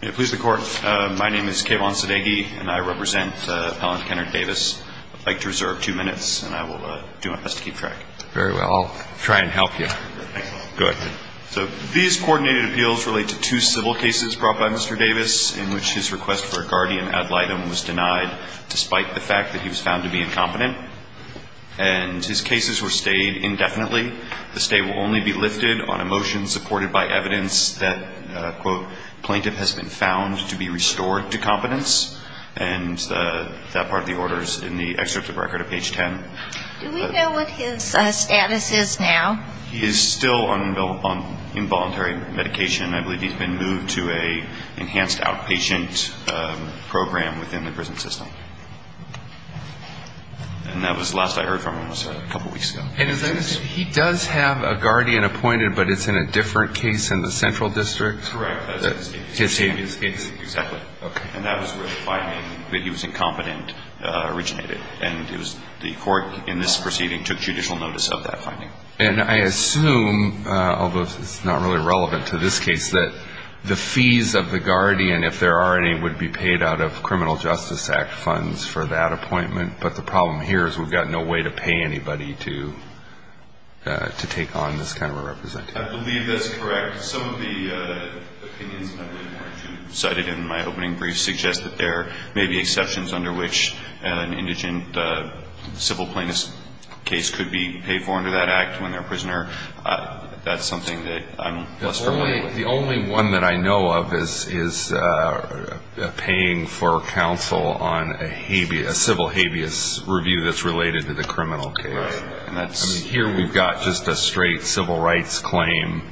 Please the court. My name is Kayvon Sadegi and I represent Appellant Kennard Davis. I'd like to reserve two minutes and I will do my best to keep track. Very well. I'll try and help you. Go ahead. These coordinated appeals relate to two civil cases brought by Mr. Davis in which his request for a guardian ad litem was denied despite the fact that he was found to be incompetent. And his cases were stayed indefinitely. The stay will only be lifted on a motion supported by evidence that, quote, plaintiff has been found to be restored to competence. And that part of the order is in the excerpt of record at page 10. Do we know what his status is now? He is still on involuntary medication. I believe he's been moved to an enhanced outpatient program within the prison system. And that was the last I heard from him was a couple weeks ago. And he does have a guardian appointed but it's in a different case in the central district? Correct. His name is Davis. Exactly. Okay. And that was where the finding that he was incompetent originated. And it was the court in this proceeding took judicial notice of that finding. And I assume, although it's not really relevant to this case, that the fees of the guardian, if there are any, would be paid out of Criminal Justice Act funds for that appointment. But the problem here is we've got no way to pay anybody to take on this kind of a representation. I believe that's correct. Some of the opinions cited in my opening brief suggest that there may be exceptions under which an indigent civil plaintiff's case could be paid for under that act when they're a prisoner. That's something that I'm less familiar with. The only one that I know of is paying for counsel on a civil habeas review that's related to the criminal case. Right.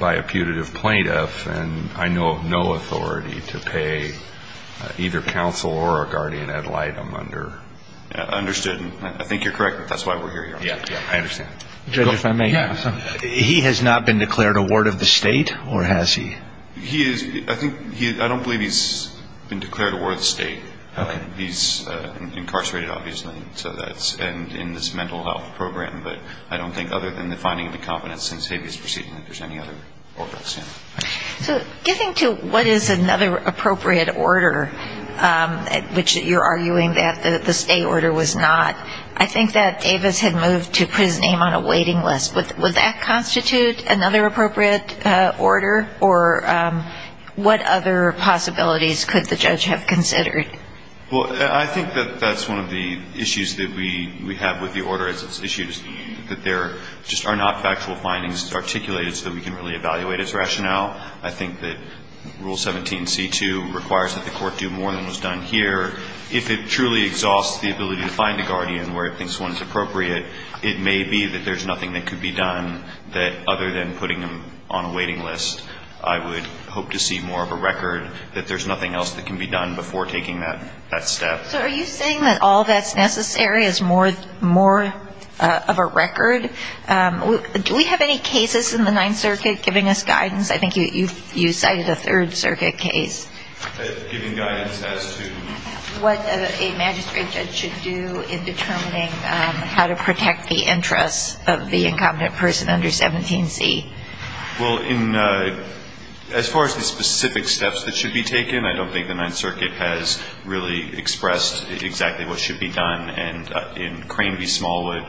By a putative plaintiff, and I know of no authority to pay either counsel or a guardian ad litem under. Understood. I think you're correct. That's why we're here. Yeah, yeah. I understand. Judge, if I may ask something. Yeah. He has not been declared a ward of the state or has he? I don't believe he's been declared a ward of the state. Okay. He's incarcerated, obviously. So that's in this mental health program. But I don't think other than the finding of incompetence since habeas proceeding that there's any other orders. So getting to what is another appropriate order, which you're arguing that the state order was not, I think that Davis had moved to put his name on a waiting list. Would that constitute another appropriate order? Or what other possibilities could the judge have considered? Well, I think that that's one of the issues that we have with the order. It's an issue that there just are not factual findings articulated so that we can really evaluate its rationale. I think that Rule 17c2 requires that the court do more than was done here. If it truly exhausts the ability to find a guardian where it thinks one is appropriate, it may be that there's nothing that could be done that, other than putting him on a waiting list, I would hope to see more of a record that there's nothing else that can be done before taking that step. So are you saying that all that's necessary is more of a record? Do we have any cases in the Ninth Circuit giving us guidance? I think you cited a Third Circuit case. Giving guidance as to? What a magistrate judge should do in determining how to protect the interests of the incompetent person under 17c. Well, as far as the specific steps that should be taken, I don't think the Ninth Circuit has really expressed exactly what should be done. And in Crane v. Smallwood,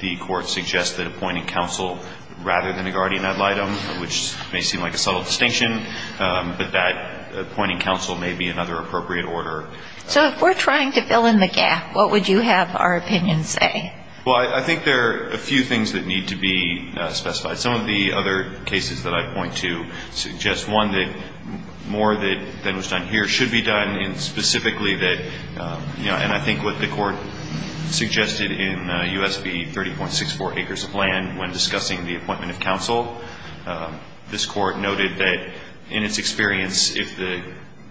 the court suggests that appointing counsel rather than a guardian ad litem, which may seem like a subtle distinction, but that appointing counsel may be another appropriate order. So if we're trying to fill in the gap, what would you have our opinion say? Well, I think there are a few things that need to be specified. Some of the other cases that I point to suggest, one, that more than was done here should be done, and specifically that, you know, and I think what the court suggested in U.S. v. 30.64, acres of land when discussing the appointment of counsel, this court noted that in its experience, if the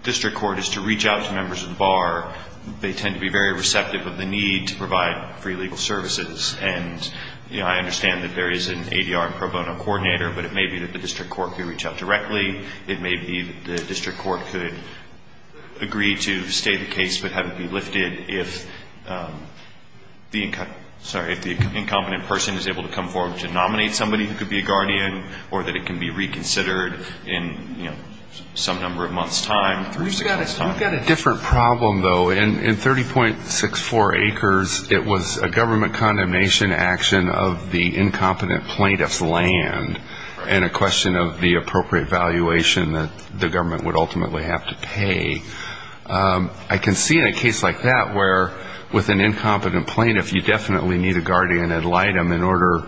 district court is to reach out to members of the bar, they tend to be very receptive of the need to provide free legal services. And, you know, I understand that there is an ADR and pro bono coordinator, but it may be that the district court could reach out directly. It may be that the district court could agree to stay the case but have it be lifted if the incompetent person is able to come forward to nominate somebody who could be a guardian or that it can be reconsidered in, you know, some number of months' time. You've got a different problem, though. In 30.64 acres, it was a government condemnation action of the incompetent plaintiff's land and a question of the appropriate valuation that the government would ultimately have to pay. I can see in a case like that where with an incompetent plaintiff, you definitely need a guardian ad litem in order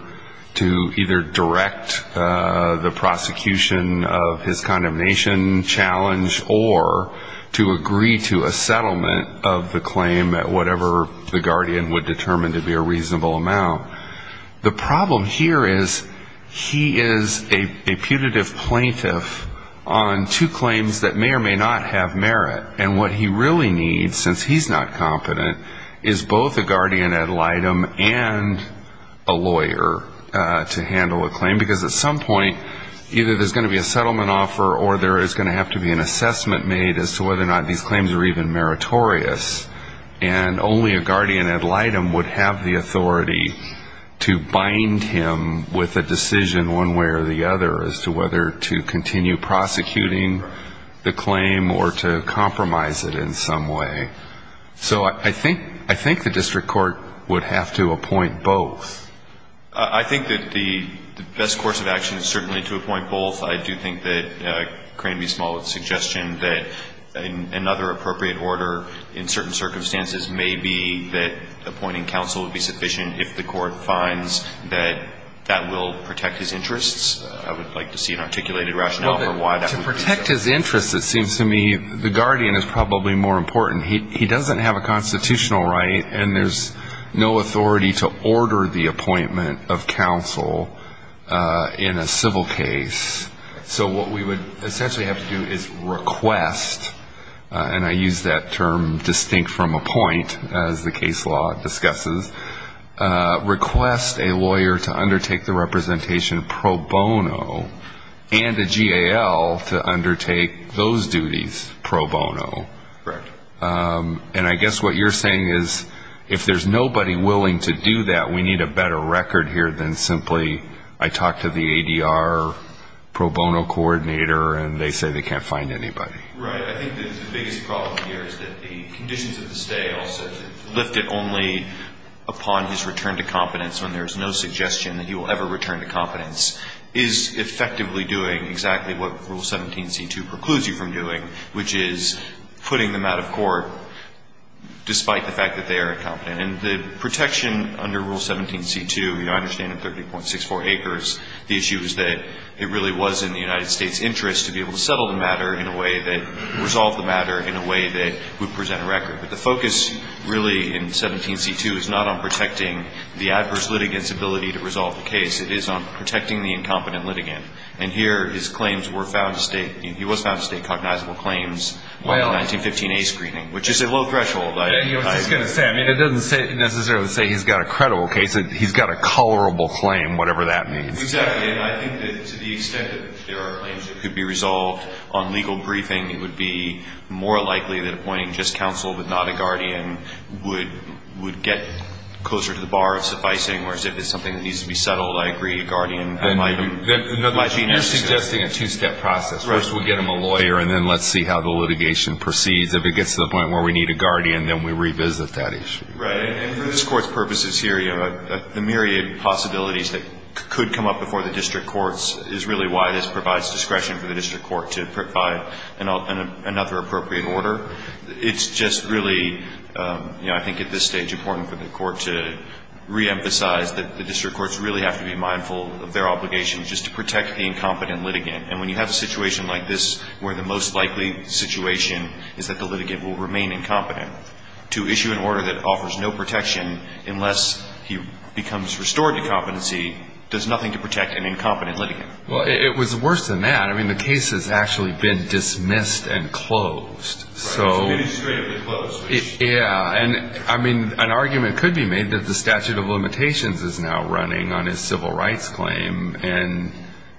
to either direct the prosecution of his condemnation challenge or to agree to a settlement of the claim at whatever the guardian would determine to be a reasonable amount. The problem here is he is a putative plaintiff on two claims that may or may not have merit. And what he really needs, since he's not competent, is both a guardian ad litem and a lawyer to handle a claim, because at some point either there's going to be a settlement offer or there is going to have to be an assessment made as to whether or not these claims are even meritorious. And only a guardian ad litem would have the authority to bind him with a decision one way or the other as to whether to continue prosecuting the claim or to compromise it in some way. So I think the district court would have to appoint both. I think that the best course of action is certainly to appoint both. I do think that Crane v. Smallwood's suggestion that another appropriate order in certain circumstances may be that appointing counsel would be sufficient if the court finds that that will protect his interests. I would like to see an articulated rationale for why that would be sufficient. To protect his interests, it seems to me, the guardian is probably more important. He doesn't have a constitutional right, and there's no authority to order the appointment of counsel in a civil case. So what we would essentially have to do is request, and I use that term distinct from appoint as the case law discusses, request a lawyer to undertake the representation pro bono and a GAL to undertake those duties pro bono. And I guess what you're saying is if there's nobody willing to do that, we need a better record here than simply I talked to the ADR pro bono coordinator, and they say they can't find anybody. Right. I think the biggest problem here is that the conditions of the stay, lifted only upon his return to competence when there's no suggestion that he will ever return to competence, is effectively doing exactly what Rule 17c2 precludes you from doing, which is putting them out of court despite the fact that they are incompetent. And the protection under Rule 17c2, I understand in 30.64 Acres, the issue is that it really was in the United States' interest to be able to settle the matter in a way that, resolve the matter in a way that would present a record. But the focus really in 17c2 is not on protecting the adverse litigant's ability to resolve the case. It is on protecting the incompetent litigant. And here his claims were found to state, he was found to state cognizable claims on the 1915A screening, which is a low threshold. I was just going to say, I mean, it doesn't necessarily say he's got a credible case. He's got a colorable claim, whatever that means. Exactly. And I think that to the extent that there are claims that could be resolved on legal briefing, it would be more likely that appointing just counsel but not a guardian would get closer to the bar of sufficing, whereas if it's something that needs to be settled, I agree, a guardian. You're suggesting a two-step process. First we get him a lawyer, and then let's see how the litigation proceeds. If it gets to the point where we need a guardian, then we revisit that issue. Right. And for this Court's purposes here, the myriad of possibilities that could come up before the district courts is really why this provides discretion for the district court to provide another appropriate order. It's just really, you know, I think at this stage important for the court to reemphasize that the district courts really have to be mindful of their obligations just to protect the incompetent litigant. And when you have a situation like this where the most likely situation is that the litigant will remain incompetent, to issue an order that offers no protection unless he becomes restored to competency does nothing to protect an incompetent litigant. Well, it was worse than that. I mean, the case has actually been dismissed and closed. Right. Administratively closed. Yeah. And, I mean, an argument could be made that the statute of limitations is now running on his civil rights claim, and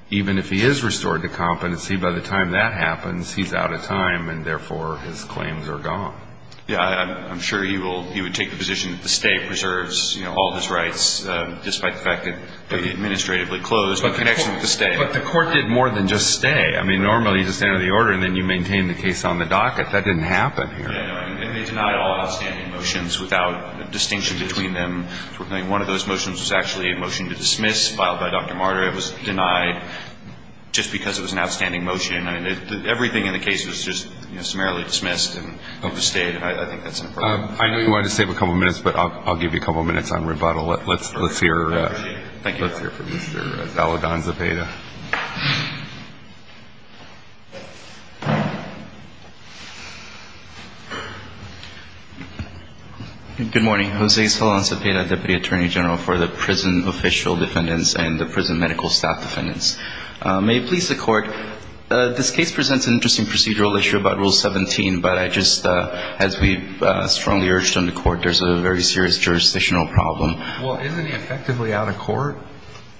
even if he is restored to competency, by the time that happens, he's out of time, and therefore his claims are gone. Yeah. I'm sure he would take the position that the state preserves, you know, all of his rights, despite the fact that they're administratively closed in connection with the state. But the court did more than just stay. I mean, normally you just enter the order, and then you maintain the case on the docket. That didn't happen here. Right. And they denied all outstanding motions without distinction between them. I mean, one of those motions was actually a motion to dismiss, filed by Dr. Marder. It was denied just because it was an outstanding motion. I mean, everything in the case was just, you know, summarily dismissed, and it was stayed. And I think that's inappropriate. I know you wanted to save a couple minutes, but I'll give you a couple minutes on rebuttal. Let's hear from Mr. Zaladan Zapata. Thank you. Good morning. Jose Zaladan Zapata, Deputy Attorney General for the Prison Official Defendants and the Prison Medical Staff Defendants. May it please the Court, this case presents an interesting procedural issue about Rule 17, but I just, as we strongly urged on the Court, there's a very serious jurisdictional problem. Well, isn't it effectively out of court,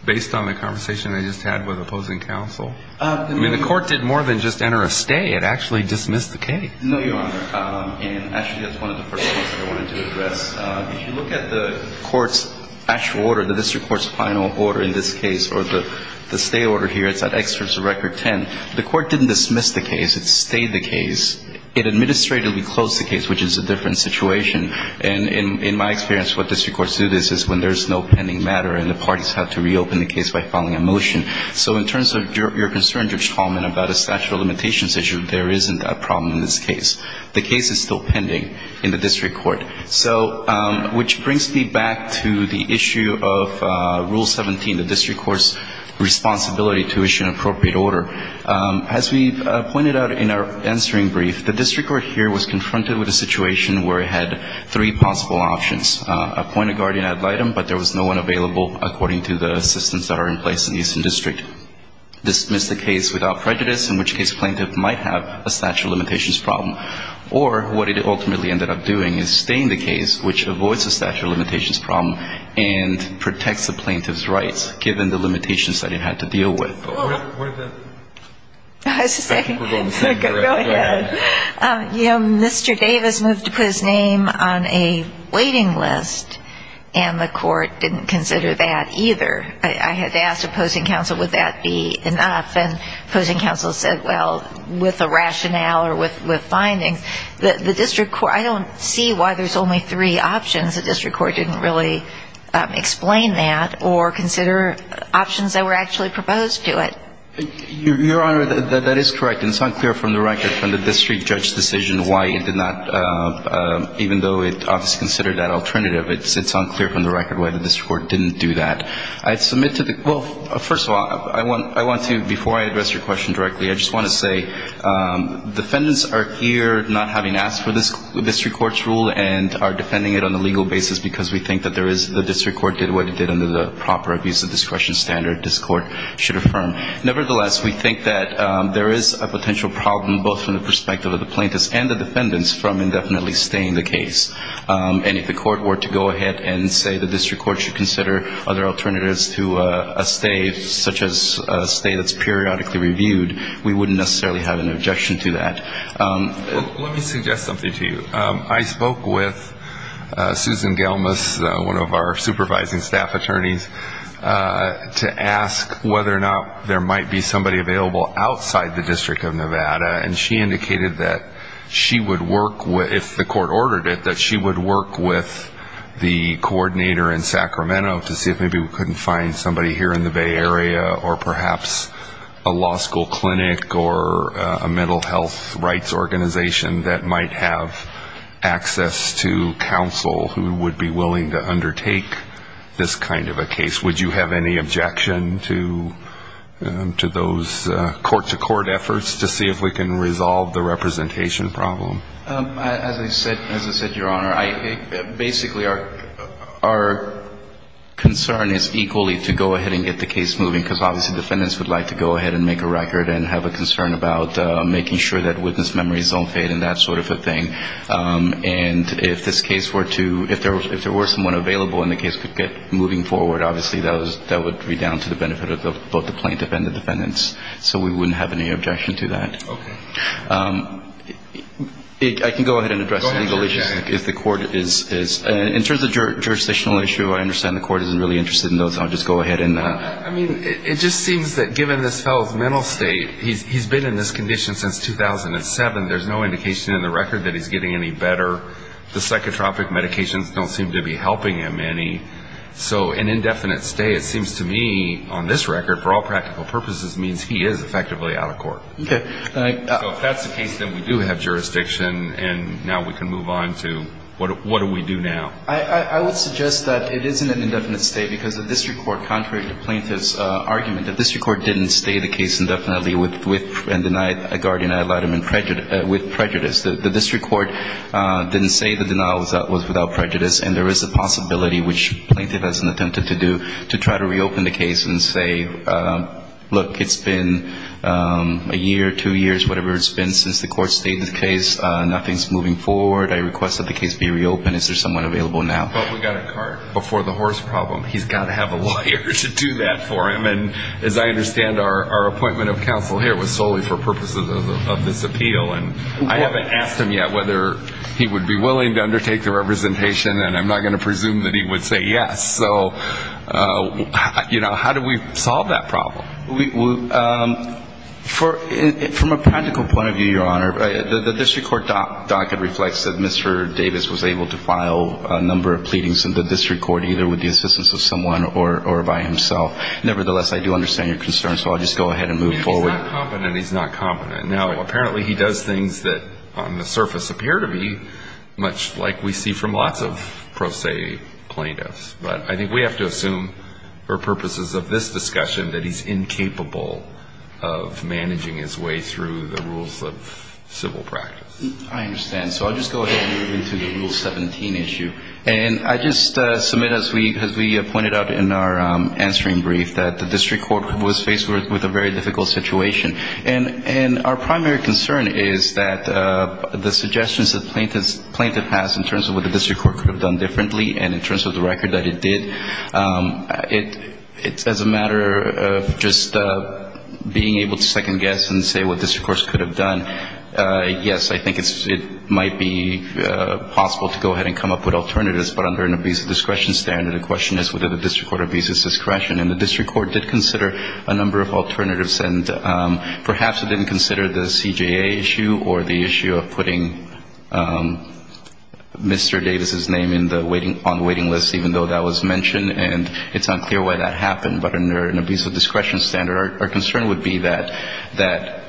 based on the conversation I just had with opposing counsel? I mean, the Court did more than just enter a stay. It actually dismissed the case. No, Your Honor. And actually, that's one of the first things that I wanted to address. If you look at the Court's actual order, the District Court's final order in this case, or the stay order here, it's at Excerpts of Record 10. The Court didn't dismiss the case. It stayed the case. It administratively closed the case, which is a different situation. And in my experience, what District Courts do is when there's no pending matter and the parties have to reopen the case by filing a motion. So in terms of your concern, Judge Coleman, about a statute of limitations issue, there isn't a problem in this case. The case is still pending in the District Court. So which brings me back to the issue of Rule 17, the District Court's responsibility to issue an appropriate order. As we pointed out in our answering brief, the District Court here was confronted with a situation where it had three possible options. Appoint a guardian ad litem, but there was no one available, according to the systems that are in place in the Eastern District. Dismiss the case without prejudice, in which case plaintiff might have a statute of limitations problem. Or what it ultimately ended up doing is staying the case, which avoids a statute of limitations problem, and protects the plaintiff's rights given the limitations that it had to deal with. Go ahead. You know, Mr. Davis moved to put his name on a waiting list, and the court didn't consider that either. I had asked opposing counsel would that be enough, and opposing counsel said, well, with a rationale or with findings. I don't see why there's only three options. The District Court didn't really explain that or consider options that were actually proposed to. Your Honor, that is correct, and it's unclear from the record from the District Judge's decision why it did not, even though it obviously considered that alternative, it's unclear from the record why the District Court didn't do that. I submit to the, well, first of all, I want to, before I address your question directly, I just want to say, defendants are here not having asked for the District Court's rule and are defending it on a legal basis because we think that there is, the District Court did what it did under the proper abuse of discretion standard. This Court should affirm. Nevertheless, we think that there is a potential problem, both from the perspective of the plaintiffs and the defendants, from indefinitely staying the case. And if the Court were to go ahead and say the District Court should consider other alternatives to a stay, such as a stay that's periodically reviewed, we wouldn't necessarily have an objection to that. Let me suggest something to you. I spoke with Susan Gelmas, one of our supervising staff attorneys, to ask whether or not there might be somebody available outside the District of Nevada. And she indicated that she would work with, if the Court ordered it, that she would work with the coordinator in Sacramento to see if maybe we couldn't find somebody here in the Bay Area or perhaps a law school clinic or a mental health rights organization that might have access to counsel who would be willing to undertake this kind of a case. Would you have any objection to those court-to-court efforts to see if we can resolve the representation problem? As I said, Your Honor, basically our concern is equally to go ahead and get the case moving, because obviously defendants would like to go ahead and make a record and have a concern about making sure that witness memories don't fade and that sort of a thing. And if this case were to, if there were someone available and the case could get moving forward, obviously that would be down to the benefit of both the plaintiff and the defendants. So we wouldn't have any objection to that. Okay. I can go ahead and address the legal issues. Go ahead, Judge. If the Court is, in terms of jurisdictional issues, I understand the Court isn't really interested in those. I'll just go ahead and... I mean, it just seems that given this fellow's mental state, he's been in this condition since 2007, there's no indication in the record that he's getting any better. The psychotropic medications don't seem to be helping him any. So an indefinite stay, it seems to me, on this record, for all practical purposes means he is effectively out of court. Okay. So if that's the case, then we do have jurisdiction, and now we can move on to what do we do now? I would suggest that it isn't an indefinite stay, because the district court, contrary to the plaintiff's argument, the district court didn't stay the case indefinitely and denied a guardian ad litem with prejudice. The district court didn't say the denial was without prejudice, and there is a possibility, which the plaintiff has attempted to do, to try to reopen the case and say, look, it's been a year, two years, whatever it's been since the court stayed the case. Nothing's moving forward. I request that the case be reopened. Is there someone available now? But we've got a cart before the horse problem. He's got to have a lawyer to do that for him. And as I understand, our appointment of counsel here was solely for purposes of this appeal. And I haven't asked him yet whether he would be willing to undertake the representation, and I'm not going to presume that he would say yes. So, you know, how do we solve that problem? From a practical point of view, Your Honor, the district court docket reflects that Mr. Davis was able to file a number of pleadings in the district court, either with the assistance of someone or by himself. Nevertheless, I do understand your concern, so I'll just go ahead and move forward. He's not competent. He's not competent. Now, apparently he does things that on the surface appear to be much like we see from lots of pro se plaintiffs. But I think we have to assume for purposes of this discussion that he's incapable of managing his way through the rules of civil practice. I understand. So I'll just go ahead and move into the Rule 17 issue. And I just submit, as we pointed out in our answering brief, that the district court was faced with a very difficult situation. And our primary concern is that the suggestions the plaintiff has in terms of what the district court could have done differently and in terms of the record that it did, it's as a matter of just being able to second guess and say what the district court could have done. Yes, I think it might be possible to go ahead and come up with alternatives. But under an abusive discretion standard, the question is whether the district court abuses discretion. And the district court did consider a number of alternatives. And perhaps it didn't consider the CJA issue or the issue of putting Mr. Davis's name on the waiting list, even though that was mentioned. And it's unclear why that happened. But under an abusive discretion standard, our concern would be that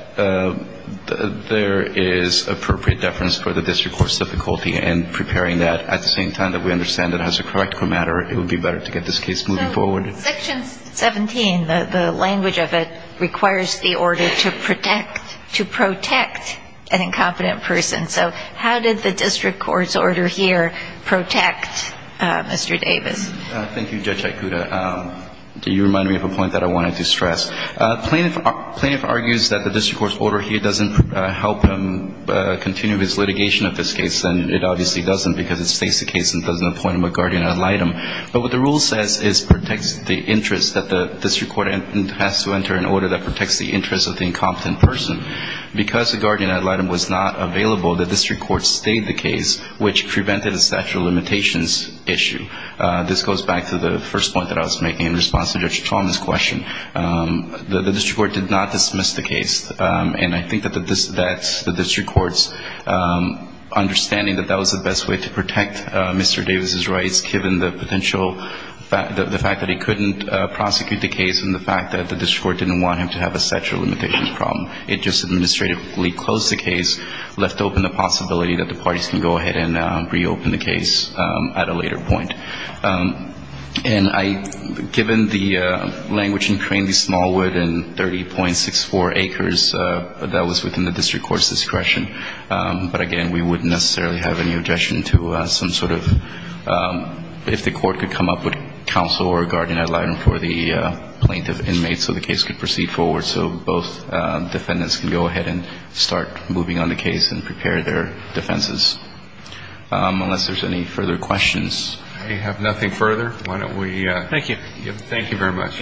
there is appropriate deference for the district court's difficulty in preparing that at the same time that we understand that as a practical matter, it would be better to get this case moving forward. So Section 17, the language of it, requires the order to protect an incompetent person. So how did the district court's order here protect Mr. Davis? Thank you, Judge Aikuda. You reminded me of a point that I wanted to stress. Plaintiff argues that the district court's order here doesn't help him continue his litigation of this case, and it obviously doesn't because it states the case and doesn't appoint him a guardian ad litem. But what the rule says is protects the interest that the district court has to enter an order that protects the interest of the incompetent person. Because the guardian ad litem was not available, the district court stayed the case, which prevented a statute of limitations issue. This goes back to the first point that I was making in response to Judge Chalmers' question. The district court did not dismiss the case. And I think that the district court's understanding that that was the best way to protect Mr. Davis' rights, given the potential fact that he couldn't prosecute the case and the fact that the district court didn't want him to have a statute of limitations problem. It just administratively closed the case, left open the possibility that the parties can go ahead and reopen the case at a later point. And I, given the language in Crane v. Smallwood and 30.64 acres, that was within the district court's discretion. But, again, we wouldn't necessarily have any objection to some sort of, if the court could come up with counsel or a guardian ad litem for the plaintiff inmate so the case could proceed forward. So both defendants can go ahead and start moving on the case and prepare their defenses. Unless there's any further questions. I have nothing further. Why don't we. Thank you. Thank you very much.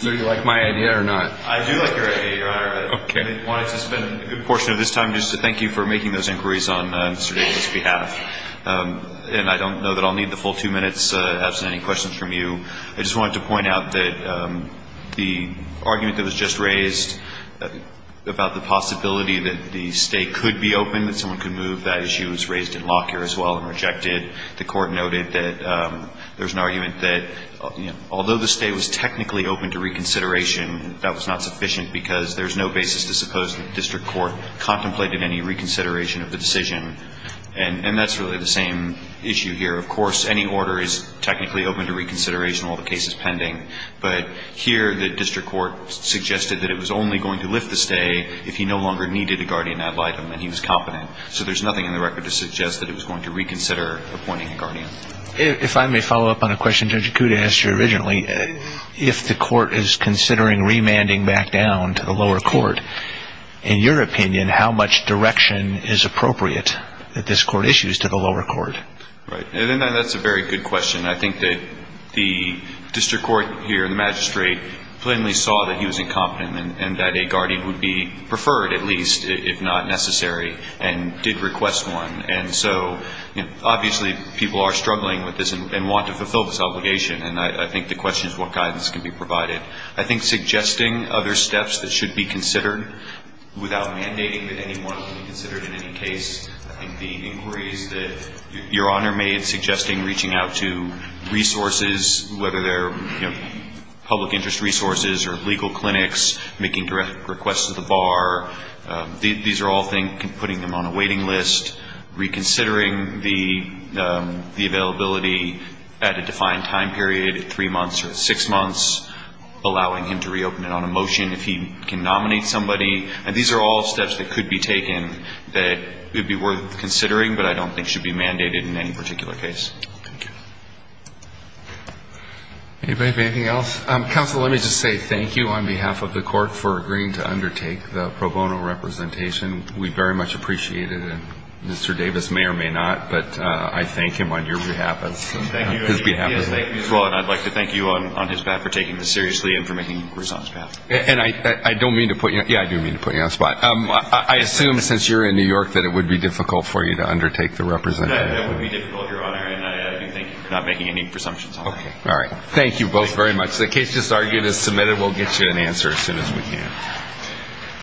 Do you like my idea or not? I do like your idea, Your Honor. Okay. I wanted to spend a good portion of this time just to thank you for making those inquiries on Mr. Davis' behalf. And I don't know that I'll need the full two minutes absent any questions from you. I just wanted to point out that the argument that was just raised about the possibility that the stay could be open, that someone could move, that issue was raised in Lockyer as well and rejected. The court noted that there's an argument that although the stay was technically open to reconsideration, that was not sufficient because there's no basis to suppose the district court contemplated any reconsideration of the decision. And that's really the same issue here. Of course, any order is technically open to reconsideration, all the cases pending. But here the district court suggested that it was only going to lift the stay if he no longer needed a guardian ad litem and he was competent. So there's nothing in the record to suggest that it was going to reconsider appointing a guardian. If I may follow up on a question Judge Acuda asked you originally, if the court is considering remanding back down to the lower court, in your opinion, how much direction is appropriate that this court issues to the lower court? Right. That's a very good question. I think that the district court here and the magistrate plainly saw that he was incompetent and that a guardian would be preferred at least if not necessary and did request one. And so obviously people are struggling with this and want to fulfill this obligation. And I think the question is what guidance can be provided. I think suggesting other steps that should be considered without mandating that anyone should be considered in any case, I think the inquiries that Your Honor made suggesting reaching out to resources, whether they're public interest resources or legal clinics, making direct requests to the bar, these are all putting them on a waiting list. Reconsidering the availability at a defined time period, three months or six months, allowing him to reopen it on a motion if he can nominate somebody. And these are all steps that could be taken that would be worth considering but I don't think should be mandated in any particular case. Thank you. Anybody have anything else? Counsel, let me just say thank you on behalf of the court for agreeing to undertake the pro bono representation. We very much appreciate it. And Mr. Davis may or may not, but I thank him on your behalf and his behalf as well. And I'd like to thank you on his behalf for taking this seriously and for making the response path. And I don't mean to put you on the spot. I assume since you're in New York that it would be difficult for you to undertake the representation. It would be difficult, Your Honor, and I do thank you for not making any presumptions on that. All right. Thank you both very much. The case just argued is submitted. We'll get you an answer as soon as we can.